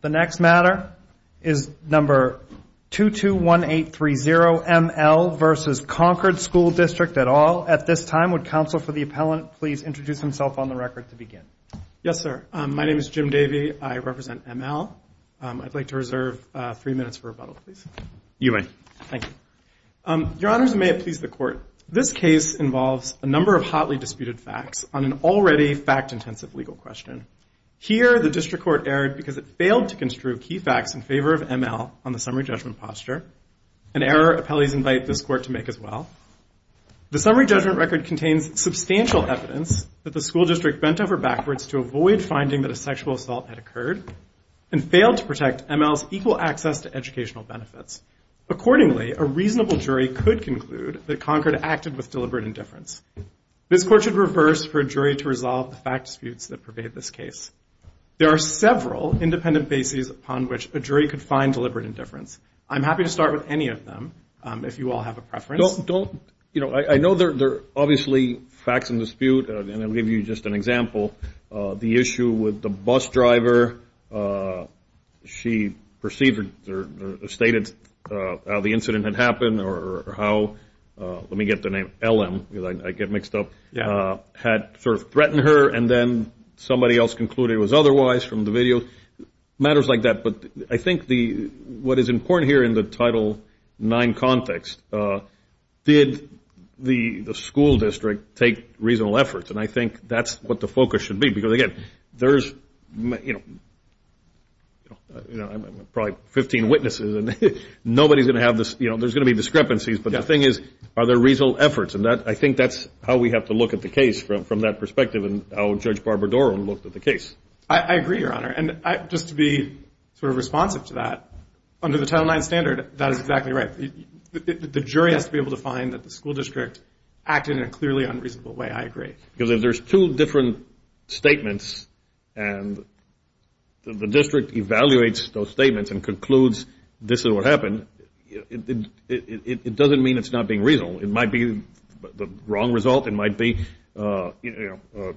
The next matter is number 221830. M.L. v. Concord School District at all. At this time, would counsel for the appellant please introduce himself on the record to begin? Yes, sir. My name is Jim Davey. I represent M.L. I'd like to reserve three minutes for rebuttal, please. You may. Thank you. Your Honors, may it please the Court. This case involves a number of hotly disputed facts on an already fact-intensive legal question. Here, the District Court erred because it failed to construe key facts in favor of M.L. on the summary judgment posture, an error appellees invite this Court to make as well. The summary judgment record contains substantial evidence that the school district bent over backwards to avoid finding that a sexual assault had occurred and failed to protect M.L.'s equal access to educational benefits. Accordingly, a reasonable jury could conclude that Concord acted with deliberate indifference. This Court should reverse for a jury to resolve the fact disputes that pervade this case. There are several independent bases upon which a jury could find deliberate indifference. I'm happy to start with any of them if you all have a preference. I know there are obviously facts in dispute, and I'll give you just an example. The issue with the bus driver, she stated how the incident had happened or how, let me get the name, L.M. because I get mixed up, had sort of threatened her, and then somebody else concluded it was otherwise from the video, matters like that, but I think what is important here in the Title IX context, did the school district take reasonable efforts? And I think that's what the focus should be because, again, there's, you know, probably 15 witnesses, and nobody's going to have this, you know, there's going to be discrepancies, but the thing is, are there reasonable efforts? And I think that's how we have to look at the case from that perspective and how Judge Barbara Doran looked at the case. I agree, Your Honor, and just to be sort of responsive to that, under the Title IX standard, that is exactly right. The jury has to be able to find that the school district acted in a clearly unreasonable way. I agree. Because if there's two different statements and the district evaluates those statements and concludes this is what happened, it doesn't mean it's not being reasonable. It might be the wrong result. It might be, you know,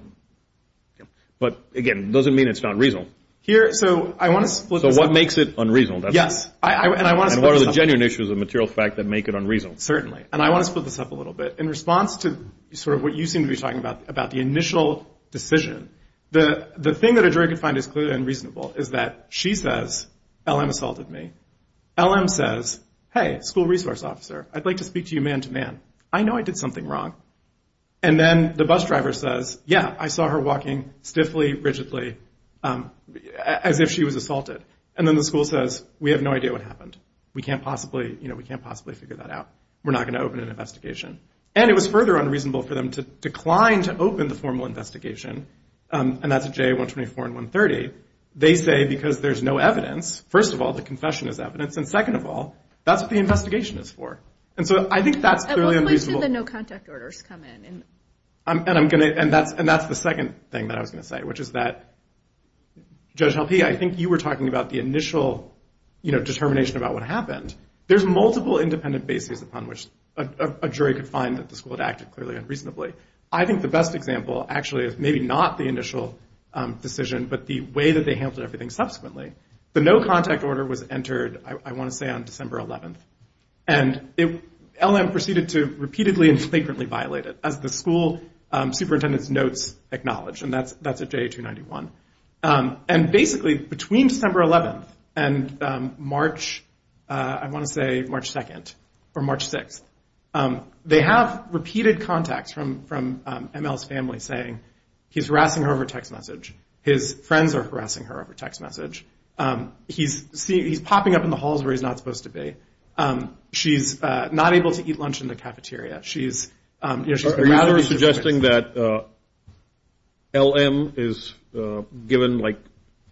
but, again, it doesn't mean it's not reasonable. Here, so I want to split this up. So what makes it unreasonable? Yes, and I want to split this up. And what are the genuine issues of material fact that make it unreasonable? Certainly, and I want to split this up a little bit. In response to sort of what you seem to be talking about, about the initial decision, the thing that a jury could find as clearly unreasonable is that she says, L.M. assaulted me. L.M. says, hey, school resource officer, I'd like to speak to you man-to-man. I know I did something wrong. And then the bus driver says, yeah, I saw her walking stiffly, rigidly, as if she was assaulted. And then the school says, we have no idea what happened. We can't possibly, you know, we can't possibly figure that out. We're not going to open an investigation. And it was further unreasonable for them to decline to open the formal investigation, and that's a JA-124 and 130. They say because there's no evidence, first of all, the confession is evidence, and second of all, that's what the investigation is for. And so I think that's clearly unreasonable. At what point did the no contact orders come in? And I'm going to, and that's the second thing that I was going to say, which is that, Judge Helpe, I think you were talking about the initial, you know, determination about what happened. There's multiple independent bases upon which a jury could find that the school had acted clearly and reasonably. I think the best example, actually, is maybe not the initial decision, but the way that they handled everything subsequently. The no contact order was entered, I want to say, on December 11th. And LM proceeded to repeatedly and frequently violate it, as the school superintendent's notes acknowledge, and that's at JA-291. And basically, between September 11th and March, I want to say March 2nd, or March 6th, they have repeated contacts from ML's family saying he's harassing her over text message, his friends are harassing her over text message, he's popping up in the halls where he's not supposed to be, she's not able to eat lunch in the cafeteria, she's- So you're suggesting that LM is given, like,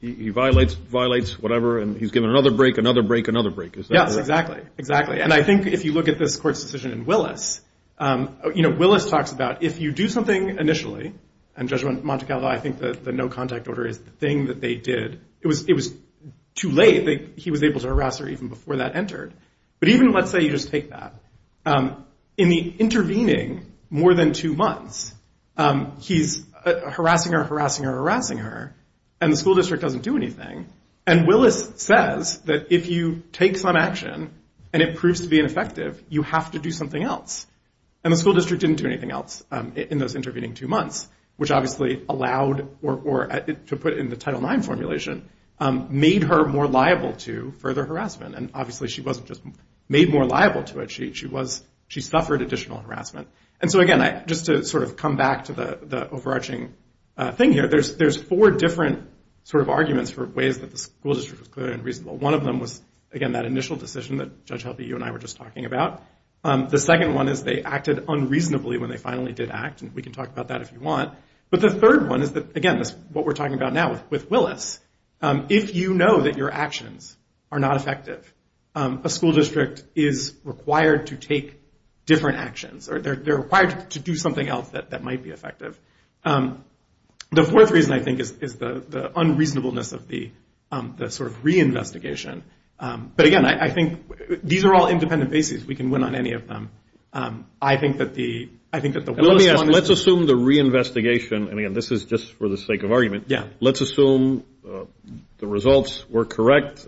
he violates, violates, whatever, and he's given another break, another break, another break, is that correct? Yes, exactly, exactly. And I think if you look at this court's decision in Willis, you know, Willis talks about if you do something initially, and Judge Monte Carlo, I think the no contact order is the thing that they did, it was too late. He was able to harass her even before that entered. But even let's say you just take that. In the intervening more than two months, he's harassing her, harassing her, harassing her, and the school district doesn't do anything. And Willis says that if you take some action, and it proves to be ineffective, you have to do something else. And the school district didn't do anything else in those intervening two months, which obviously allowed, or to put it in the Title IX formulation, made her more liable to further harassment. And obviously she wasn't just made more liable to it. She suffered additional harassment. And so, again, just to sort of come back to the overarching thing here, there's four different sort of arguments for ways that the school district was clear and reasonable. One of them was, again, that initial decision that Judge Healthy, you and I were just talking about. The second one is they acted unreasonably when they finally did act, and we can talk about that if you want. But the third one is that, again, what we're talking about now with Willis, if you know that your actions are not effective, a school district is required to take different actions, or they're required to do something else that might be effective. The fourth reason, I think, is the unreasonableness of the sort of reinvestigation. But, again, I think these are all independent bases. We can win on any of them. I think that the Willis one is. Let's assume the reinvestigation, and, again, this is just for the sake of argument. Yeah. Let's assume the results were correct.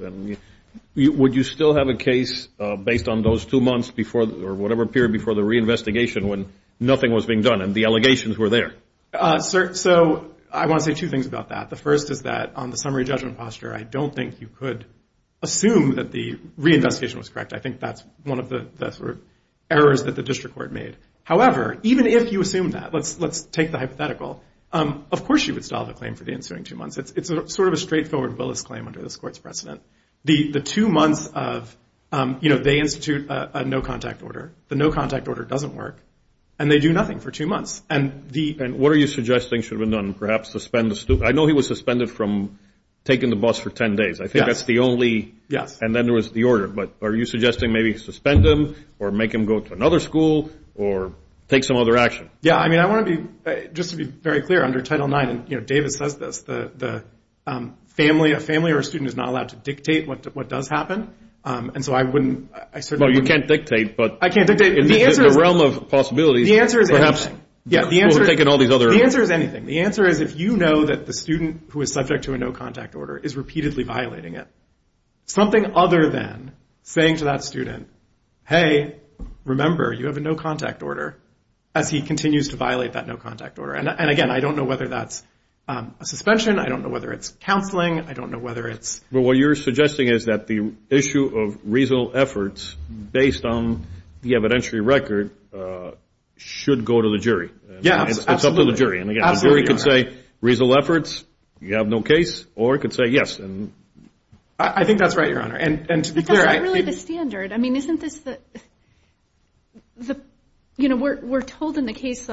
Would you still have a case based on those two months before or whatever period before the reinvestigation when nothing was being done and the allegations were there? So I want to say two things about that. The first is that on the summary judgment posture, I don't think you could assume that the reinvestigation was correct. I think that's one of the sort of errors that the district court made. However, even if you assume that, let's take the hypothetical, of course you would still have a claim for the ensuing two months. It's sort of a straightforward Willis claim under this court's precedent. The two months of, you know, they institute a no-contact order. The no-contact order doesn't work, and they do nothing for two months. And what are you suggesting should have been done? Perhaps suspend the student. I know he was suspended from taking the bus for ten days. I think that's the only. Yes. And then there was the order. But are you suggesting maybe suspend him or make him go to another school or take some other action? Yeah, I mean, I want to be, just to be very clear, under Title IX, and, you know, David says this, the family, a family or a student is not allowed to dictate what does happen. And so I wouldn't, I certainly wouldn't. Well, you can't dictate, but. I can't dictate. The answer is. In the realm of possibilities, perhaps. The answer is anything. Yeah, the answer is. We're taking all these other. The answer is anything. The answer is if you know that the student who is subject to a no-contact order is repeatedly violating it. Something other than saying to that student, hey, remember, you have a no-contact order, as he continues to violate that no-contact order. And, again, I don't know whether that's a suspension. I don't know whether it's counseling. I don't know whether it's. Well, what you're suggesting is that the issue of reasonable efforts, based on the evidentiary record, should go to the jury. Yeah, absolutely. It's up to the jury. And, again, the jury could say reasonable efforts, you have no case, or it could say yes. I think that's right, Your Honor. But that's not really the standard. I mean, isn't this the... You know, we're told in the case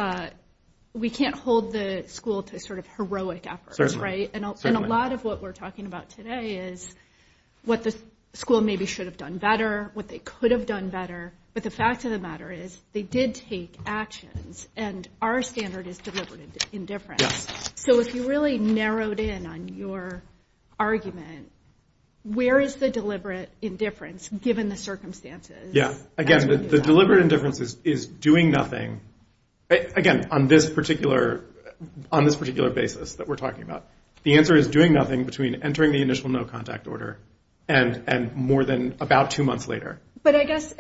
we can't hold the school to sort of heroic efforts. Certainly. And a lot of what we're talking about today is what the school maybe should have done better, what they could have done better. But the fact of the matter is they did take actions, and our standard is deliberate indifference. So if you really narrowed in on your argument, where is the deliberate indifference, given the circumstances? Yeah. Again, the deliberate indifference is doing nothing. Again, on this particular basis that we're talking about, the answer is doing nothing between entering the initial no-contact order and more than about two months later. But I guess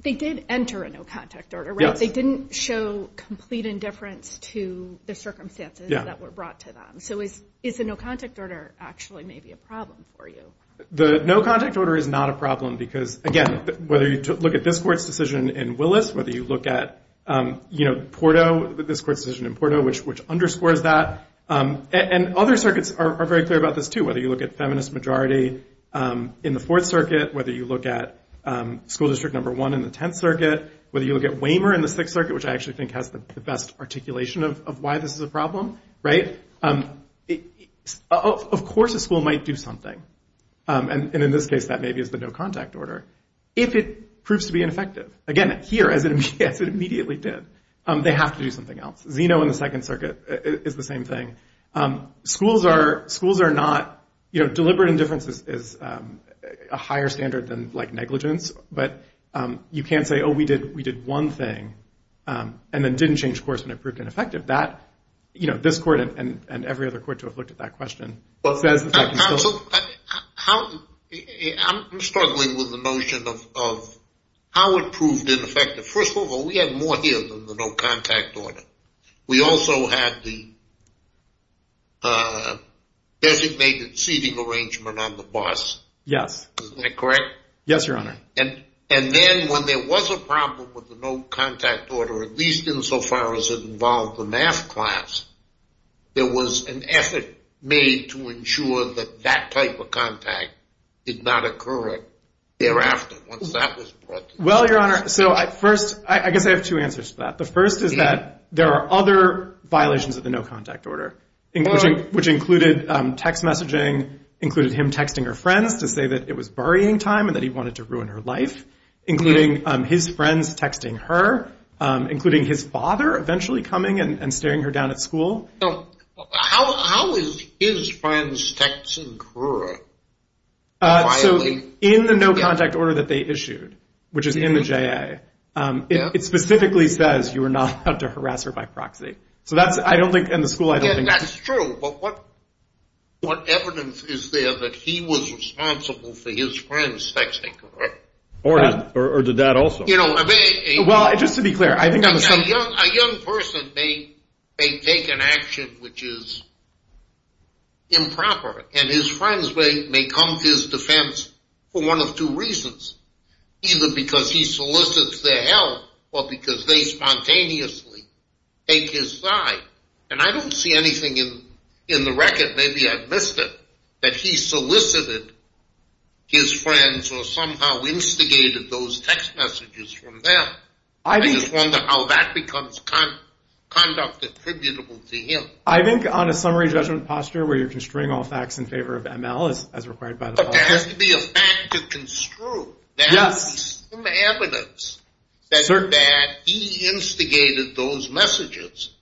they did enter a no-contact order, right? Yes. They didn't show complete indifference to the circumstances that were brought to them. So is the no-contact order actually maybe a problem for you? The no-contact order is not a problem because, again, whether you look at this court's decision in Willis, whether you look at Porto, this court's decision in Porto, which underscores that. And other circuits are very clear about this too, whether you look at feminist majority in the Fourth Circuit, whether you look at school district number one in the Tenth Circuit, whether you look at Waymer in the Sixth Circuit, which I actually think has the best articulation of why this is a problem, right? Of course a school might do something, and in this case that maybe is the no-contact order, if it proves to be ineffective. Again, here, as it immediately did, they have to do something else. Zeno in the Second Circuit is the same thing. Schools are not, you know, deliberate indifference is a higher standard than negligence, but you can't say, oh, we did one thing and then didn't change course and it proved ineffective. That, you know, this court and every other court to have looked at that question. I'm struggling with the notion of how it proved ineffective. First of all, we had more here than the no-contact order. We also had the designated seating arrangement on the bus. Yes. Is that correct? Yes, Your Honor. And then when there was a problem with the no-contact order, at least insofar as it involved the math class, there was an effort made to ensure that that type of contact did not occur thereafter. Well, Your Honor, so first, I guess I have two answers to that. The first is that there are other violations of the no-contact order, which included text messaging, included him texting her friends to say that it was a worrying time and that he wanted to ruin her life, including his friends texting her, including his father eventually coming and staring her down at school. How is his friends texting her? So in the no-contact order that they issued, which is in the JA, it specifically says you are not allowed to harass her by proxy. So that's, I don't think, in the school, I don't think that's true. But what evidence is there that he was responsible for his friends texting her? Or did that also? Well, just to be clear. A young person may take an action which is improper, and his friends may come to his defense for one of two reasons, either because he solicits their help or because they spontaneously take his side. And I don't see anything in the record, maybe I've missed it, that he solicited his friends or somehow instigated those text messages from them. I just wonder how that becomes conduct attributable to him. I think on a summary judgment posture where you're construing all facts in favor of ML as required by the law. But there has to be a fact to construe. There has to be some evidence that he instigated those messages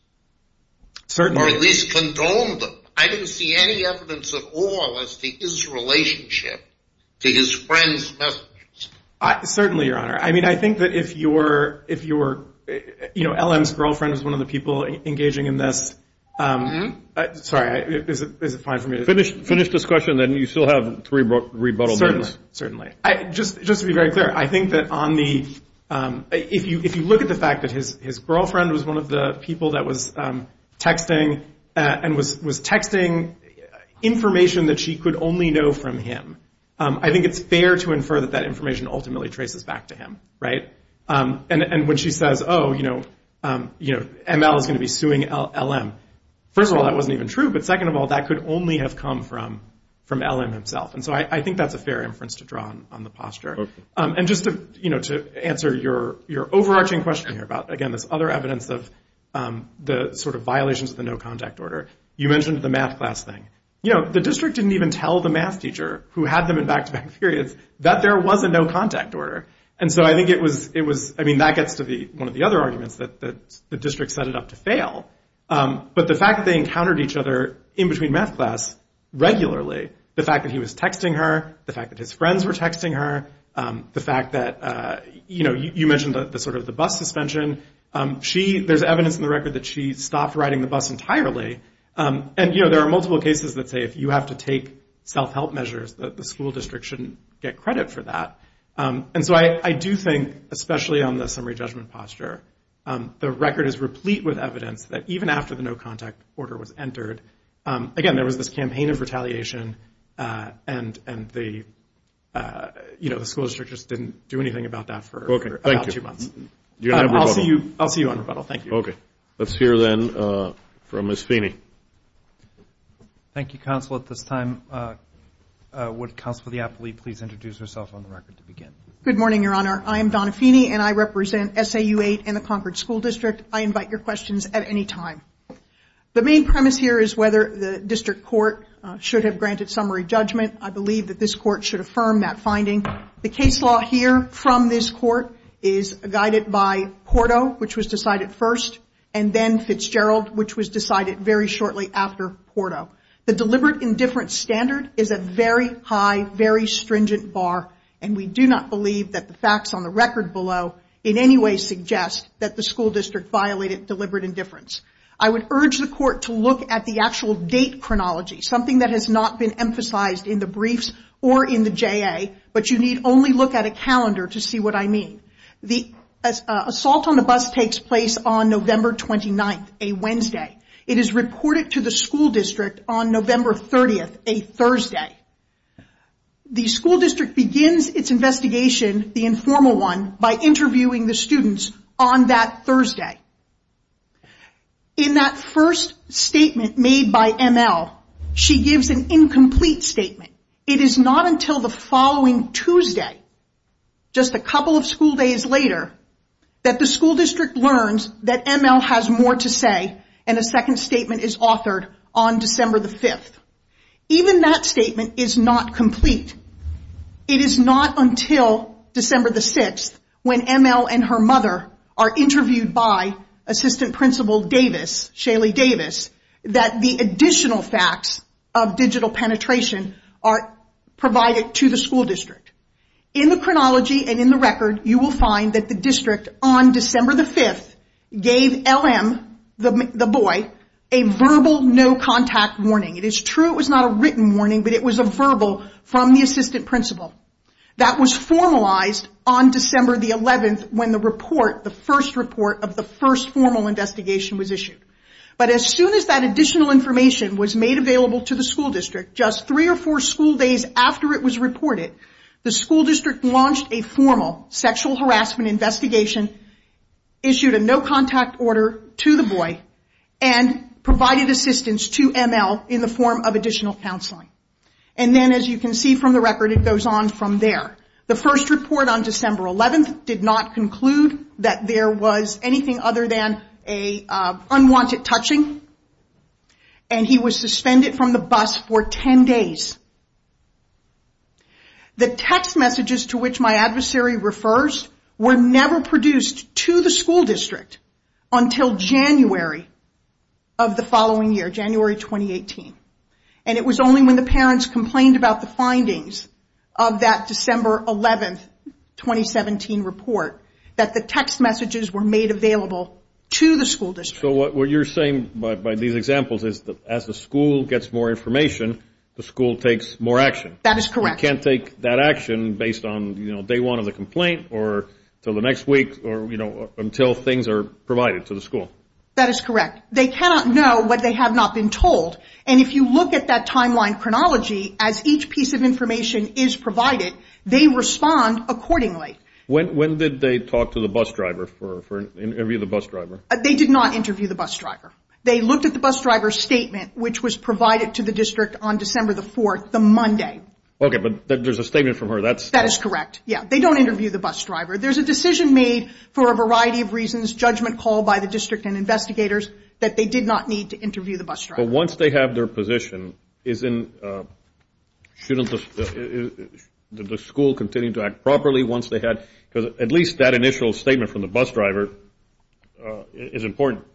or at least condoned them. I don't see any evidence at all as to his relationship to his friends' messages. Certainly, Your Honor. I mean, I think that if you were, you know, LM's girlfriend was one of the people engaging in this. Sorry, is it fine for me to finish? Finish this question, then you still have three rebuttals. Certainly. Just to be very clear, I think that if you look at the fact that his girlfriend was one of the people that was texting and was texting information that she could only know from him, I think it's fair to infer that that information ultimately traces back to him, right? And when she says, oh, you know, ML is going to be suing LM. First of all, that wasn't even true. But second of all, that could only have come from LM himself. And so I think that's a fair inference to draw on the posture. And just to, you know, to answer your overarching question here about, again, this other evidence of the sort of violations of the no contact order, you mentioned the math class thing. You know, the district didn't even tell the math teacher who had them in back-to-back periods that there was a no contact order. And so I think it was, I mean, that gets to one of the other arguments that the district set it up to fail. But the fact that they encountered each other in between math class regularly, the fact that he was texting her, the fact that his friends were texting her, the fact that, you know, you mentioned the sort of the bus suspension. She, there's evidence in the record that she stopped riding the bus entirely. And, you know, there are multiple cases that say if you have to take self-help measures, the school district shouldn't get credit for that. And so I do think, especially on the summary judgment posture, the record is replete with evidence that even after the no contact order was entered, again, there was this campaign of retaliation and the, you know, the school district just didn't do anything about that for about two months. I'll see you on rebuttal. Thank you. Okay. Let's hear then from Ms. Feeney. Thank you, Counsel. At this time, would Counsel for the Appellee please introduce herself on the record to begin? Good morning, Your Honor. I am Donna Feeney, and I represent SAU 8 and the Concord School District. I invite your questions at any time. The main premise here is whether the district court should have granted summary judgment. I believe that this court should affirm that finding. The case law here from this court is guided by Porto, which was decided first, and then Fitzgerald, which was decided very shortly after Porto. The deliberate indifference standard is a very high, very stringent bar, and we do not believe that the facts on the record below in any way suggest that the school district violated deliberate indifference. I would urge the court to look at the actual date chronology, something that has not been emphasized in the briefs or in the JA, but you need only look at a calendar to see what I mean. The assault on the bus takes place on November 29th, a Wednesday. It is reported to the school district on November 30th, a Thursday. The school district begins its investigation, the informal one, by interviewing the students on that Thursday. In that first statement made by ML, she gives an incomplete statement. It is not until the following Tuesday, just a couple of school days later, that the school district learns that ML has more to say, and a second statement is authored on December the 5th. Even that statement is not complete. It is not until December the 6th when ML and her mother are interviewed by Assistant Principal Davis, Shaley Davis, that the additional facts of digital penetration are provided to the school district. In the chronology and in the record, you will find that the district, on December the 5th, gave LM, the boy, a verbal no-contact warning. It is true it was not a written warning, but it was a verbal from the assistant principal. That was formalized on December the 11th when the report, the first report of the first formal investigation was issued. But as soon as that additional information was made available to the school district, just three or four school days after it was reported, the school district launched a formal sexual harassment investigation, issued a no-contact order to the boy, and provided assistance to ML in the form of additional counseling. And then, as you can see from the record, it goes on from there. The first report on December 11th did not conclude that there was anything other than an unwanted touching, and he was suspended from the bus for 10 days. The text messages to which my adversary refers were never produced to the school district until January of the following year, January 2018. And it was only when the parents complained about the findings of that December 11th, 2017 report, that the text messages were made available to the school district. So what you're saying by these examples is that as the school gets more information, the school takes more action. That is correct. You can't take that action based on, you know, day one of the complaint, or until the next week, or, you know, until things are provided to the school. That is correct. They cannot know what they have not been told. And if you look at that timeline chronology, as each piece of information is provided, they respond accordingly. When did they talk to the bus driver, interview the bus driver? They did not interview the bus driver. They looked at the bus driver's statement, which was provided to the district on December the 4th, the Monday. Okay, but there's a statement from her. That is correct. Yeah, they don't interview the bus driver. There's a decision made for a variety of reasons, judgment called by the district and investigators, that they did not need to interview the bus driver. But once they have their position, shouldn't the school continue to act properly once they had, because at least that initial statement from the bus driver is important.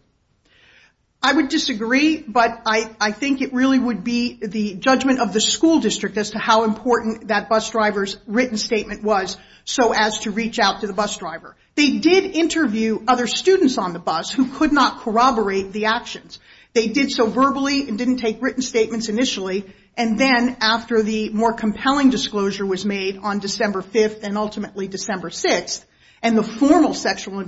I would disagree, but I think it really would be the judgment of the school district as to how important that bus driver's written statement was so as to reach out to the bus driver. They did interview other students on the bus who could not corroborate the actions. They did so verbally and didn't take written statements initially. And then after the more compelling disclosure was made on December 5th and ultimately December 6th, and the formal sexual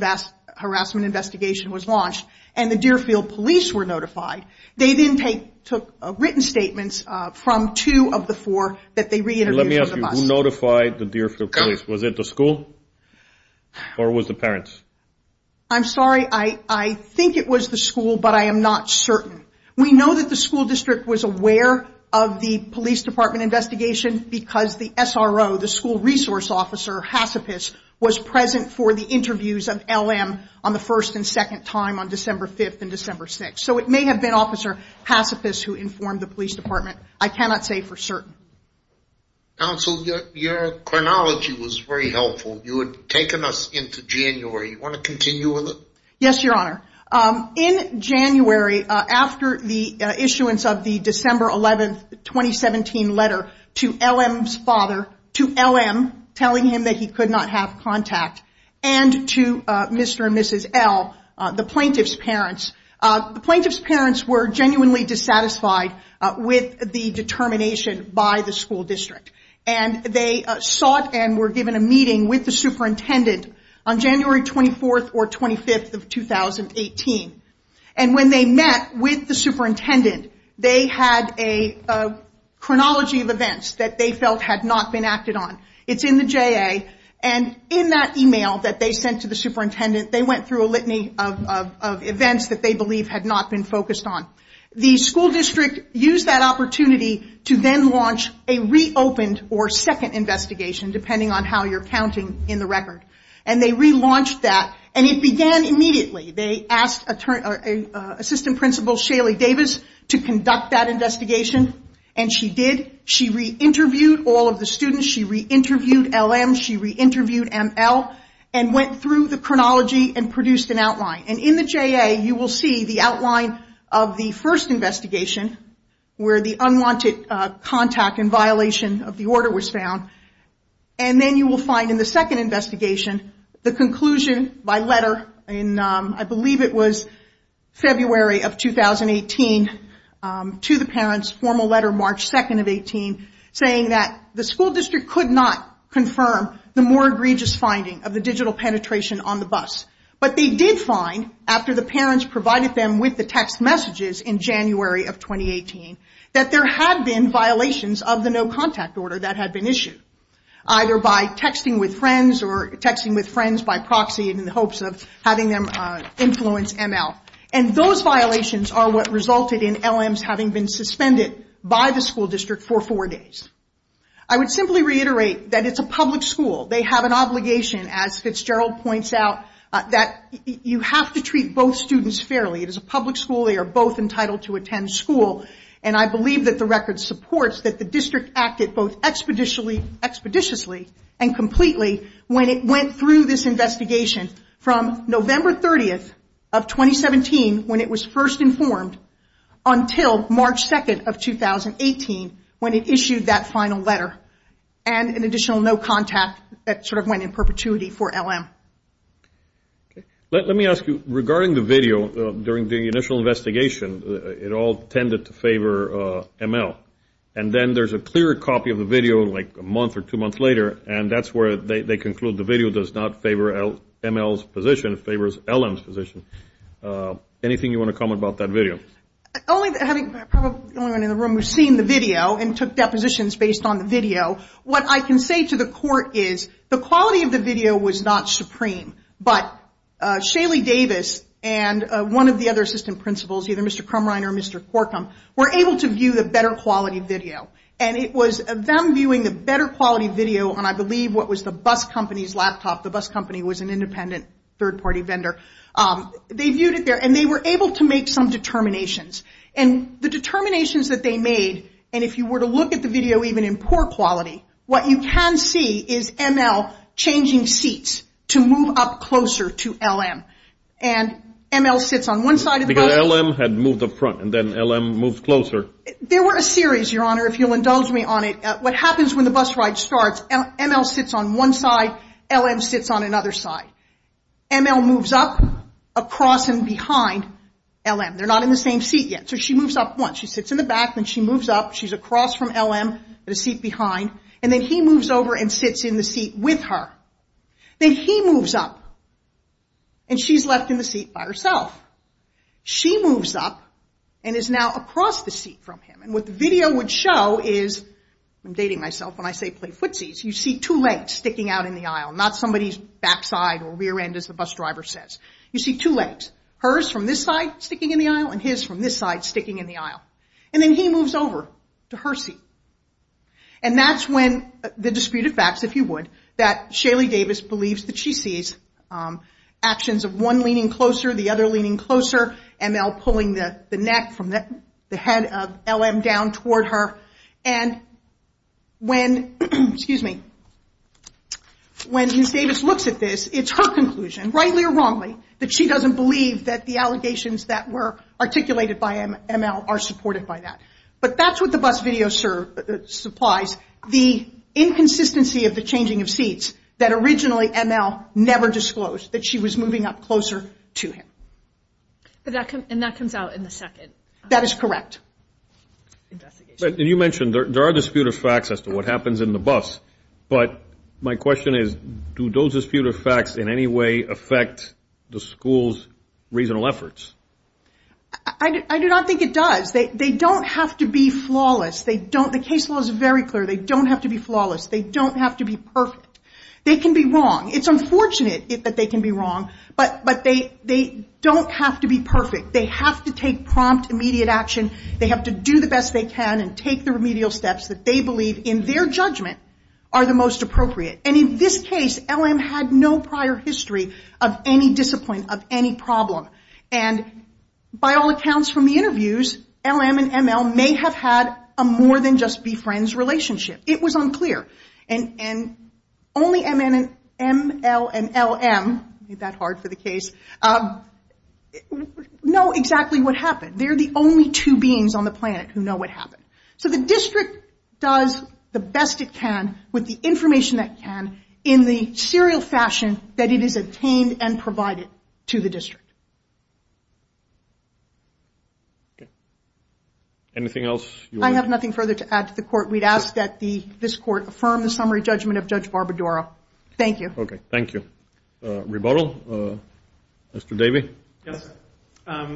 harassment investigation was launched, and the Deerfield police were notified, they then took written statements from two of the four that they re-interviewed on the bus. Let me ask you, who notified the Deerfield police? Was it the school or was it the parents? I'm sorry. I think it was the school, but I am not certain. We know that the school district was aware of the police department investigation because the SRO, the school resource officer, Hacipas, was present for the interviews of LM on the first and second time on December 5th and December 6th. So it may have been Officer Hacipas who informed the police department. I cannot say for certain. Counsel, your chronology was very helpful. You had taken us into January. You want to continue with it? Yes, Your Honor. In January, after the issuance of the December 11th, 2017 letter to LM's father, to LM telling him that he could not have contact, and to Mr. and Mrs. L, the plaintiff's parents, the plaintiff's parents were genuinely dissatisfied with the determination by the school district. And they sought and were given a meeting with the superintendent on January 24th or 25th of 2018. And when they met with the superintendent, they had a chronology of events that they felt had not been acted on. It's in the JA, and in that email that they sent to the superintendent, they went through a litany of events that they believed had not been focused on. The school district used that opportunity to then launch a reopened or second investigation, depending on how you're counting in the record. And they relaunched that, and it began immediately. They asked Assistant Principal Shaley Davis to conduct that investigation, and she did. She re-interviewed all of the students. She re-interviewed LM. She re-interviewed ML. And went through the chronology and produced an outline. And in the JA, you will see the outline of the first investigation, where the unwanted contact and violation of the order was found. And then you will find in the second investigation, the conclusion by letter in, I believe it was February of 2018, to the parents, formal letter March 2nd of 18, saying that the school district could not confirm the more egregious finding of the digital penetration on the bus. But they did find, after the parents provided them with the text messages in January of 2018, that there had been violations of the no contact order that had been issued. Either by texting with friends, or texting with friends by proxy in the hopes of having them influence ML. And those violations are what resulted in LM's having been suspended by the school district for four days. I would simply reiterate that it's a public school. They have an obligation, as Fitzgerald points out, that you have to treat both students fairly. It is a public school. They are both entitled to attend school. And I believe that the record supports that the district acted both expeditiously and completely when it went through this investigation from November 30th of 2017, when it was first informed, until March 2nd of 2018, when it issued that final letter. And an additional no contact that sort of went in perpetuity for LM. Let me ask you, regarding the video, during the initial investigation, it all tended to favor ML. And then there's a clear copy of the video, like a month or two months later, and that's where they conclude the video does not favor ML's position. It favors LM's position. Anything you want to comment about that video? Having probably the only one in the room who's seen the video and took depositions based on the video, what I can say to the court is the quality of the video was not supreme. But Shaley Davis and one of the other assistant principals, either Mr. Crumrine or Mr. Corkum, were able to view the better quality video. And it was them viewing the better quality video on, I believe, what was the bus company's laptop. The bus company was an independent third-party vendor. They viewed it there, and they were able to make some determinations. And the determinations that they made, and if you were to look at the video even in poor quality, what you can see is ML changing seats to move up closer to LM. And ML sits on one side of the bus. Because LM had moved up front, and then LM moved closer. There were a series, Your Honor, if you'll indulge me on it. What happens when the bus ride starts, ML sits on one side. LM sits on another side. ML moves up across and behind LM. They're not in the same seat yet. So she moves up once. She sits in the back. Then she moves up. She's across from LM in a seat behind. And then he moves over and sits in the seat with her. Then he moves up, and she's left in the seat by herself. She moves up and is now across the seat from him. And what the video would show is, I'm dating myself when I say play footsies, you see two legs sticking out in the aisle. Not somebody's backside or rear end as the bus driver says. You see two legs, hers from this side sticking in the aisle, and his from this side sticking in the aisle. And then he moves over to her seat. And that's when the disputed facts, if you would, that Shaley Davis believes that she sees actions of one leaning closer, the other leaning closer, ML pulling the neck from the head of LM down toward her. And when, excuse me, when Ms. Davis looks at this, it's her conclusion, rightly or wrongly, that she doesn't believe that the allegations that were articulated by ML are supported by that. But that's what the bus video supplies, the inconsistency of the changing of seats that originally ML never disclosed, that she was moving up closer to him. And that comes out in the second. That is correct. You mentioned there are disputed facts as to what happens in the bus, but my question is, do those disputed facts in any way affect the school's reasonable efforts? I do not think it does. They don't have to be flawless. The case law is very clear. They don't have to be flawless. They don't have to be perfect. They can be wrong. It's unfortunate that they can be wrong, but they don't have to be perfect. They have to take prompt, immediate action. They have to do the best they can and take the remedial steps that they believe in their judgment are the most appropriate. And in this case, LM had no prior history of any discipline, of any problem. And by all accounts from the interviews, LM and ML may have had a more than just be friends relationship. It was unclear. And only ML and LM, I made that hard for the case, know exactly what happened. They're the only two beings on the planet who know what happened. So the district does the best it can with the information it can in the serial fashion that it has obtained and provided to the district. Anything else? I have nothing further to add to the court. We'd ask that this court affirm the summary judgment of Judge Barbadaro. Thank you. Okay. Thank you. Rebuttal? Mr. Davey? Yes. I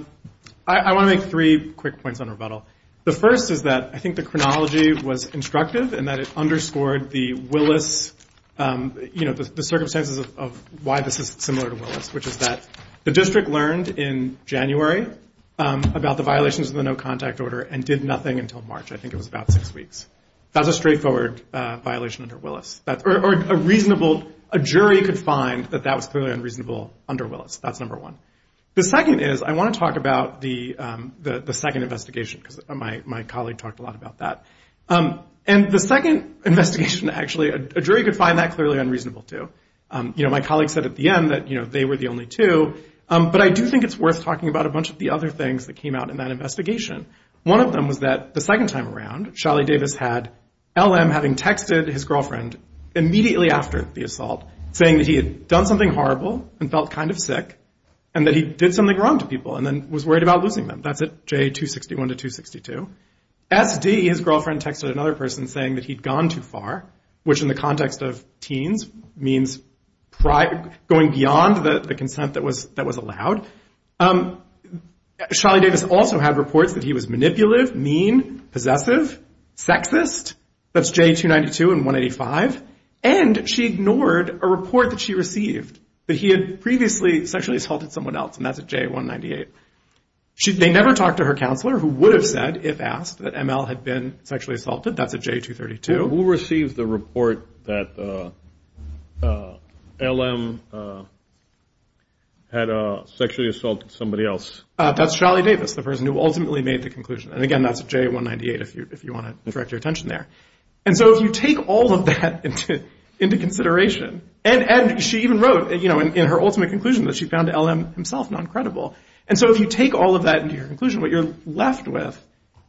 want to make three quick points on rebuttal. The first is that I think the chronology was instructive and that it underscored the circumstances of why this is similar to Willis, which is that the district learned in January about the violations of the no contact order and did nothing until March. I think it was about six weeks. That was a straightforward violation under Willis. A jury could find that that was clearly unreasonable under Willis. That's number one. The second is I want to talk about the second investigation because my colleague talked a lot about that. And the second investigation, actually, a jury could find that clearly unreasonable too. My colleague said at the end that they were the only two, but I do think it's worth talking about a bunch of the other things that came out in that investigation. One of them was that the second time around, Sholly Davis had LM having texted his girlfriend immediately after the assault saying that he had done something horrible and felt kind of sick and that he did something wrong to people and then was worried about losing them. That's at J261 to 262. SD, his girlfriend, texted another person saying that he'd gone too far, which in the context of teens means going beyond the consent that was allowed. Sholly Davis also had reports that he was manipulative, mean, possessive, sexist. That's J292 and 185. And she ignored a report that she received that he had previously sexually assaulted someone else, and that's at J198. They never talked to her counselor who would have said, if asked, that ML had been sexually assaulted. That's at J232. Who received the report that LM had sexually assaulted somebody else? That's Sholly Davis, the person who ultimately made the conclusion. And again, that's at J198 if you want to direct your attention there. And so if you take all of that into consideration, and she even wrote in her ultimate conclusion that she found LM himself noncredible. And so if you take all of that into your conclusion, what you're left with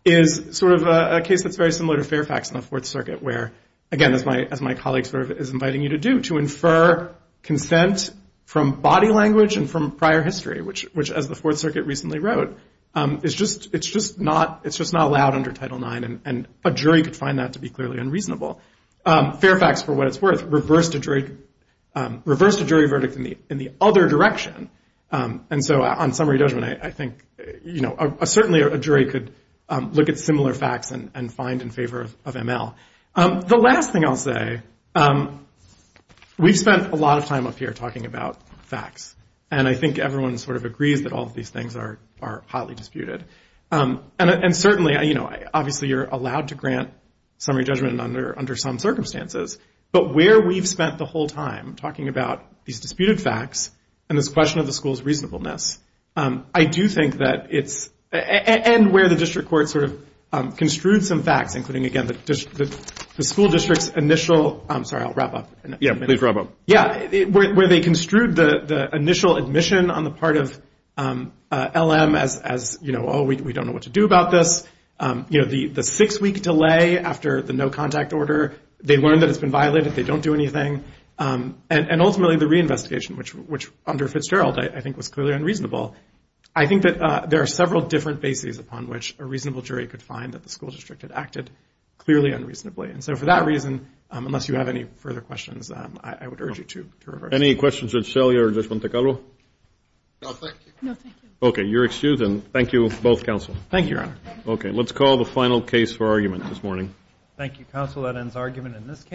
is sort of a case that's very similar to Fairfax and the Fourth Circuit where, again, as my colleague is inviting you to do, to infer consent from body language and from prior history, which, as the Fourth Circuit recently wrote, it's just not allowed under Title IX, and a jury could find that to be clearly unreasonable. Fairfax, for what it's worth, reversed a jury verdict in the other direction. And so on summary judgment, I think, you know, certainly a jury could look at similar facts and find in favor of ML. The last thing I'll say, we've spent a lot of time up here talking about facts, and I think everyone sort of agrees that all of these things are hotly disputed. And certainly, you know, obviously you're allowed to grant summary judgment under some circumstances, but where we've spent the whole time talking about these disputed facts and this question of the school's reasonableness, I do think that it's—and where the district court sort of construed some facts, including, again, the school district's initial—I'm sorry, I'll wrap up in a minute. Yeah, please wrap up. Yeah, where they construed the initial admission on the part of LM as, you know, oh, we don't know what to do about this. You know, the six-week delay after the no-contact order, they learned that it's been violated, they don't do anything. And ultimately the reinvestigation, which under Fitzgerald I think was clearly unreasonable, I think that there are several different bases upon which a reasonable jury could find that the school district had acted clearly unreasonably. And so for that reason, unless you have any further questions, I would urge you to— Any questions of Shelley or Judge Montecarlo? No, thank you. No, thank you. Okay, you're excused, and thank you both, counsel. Thank you, Your Honor. Okay, let's call the final case for argument this morning. Thank you, counsel. That ends argument in this case.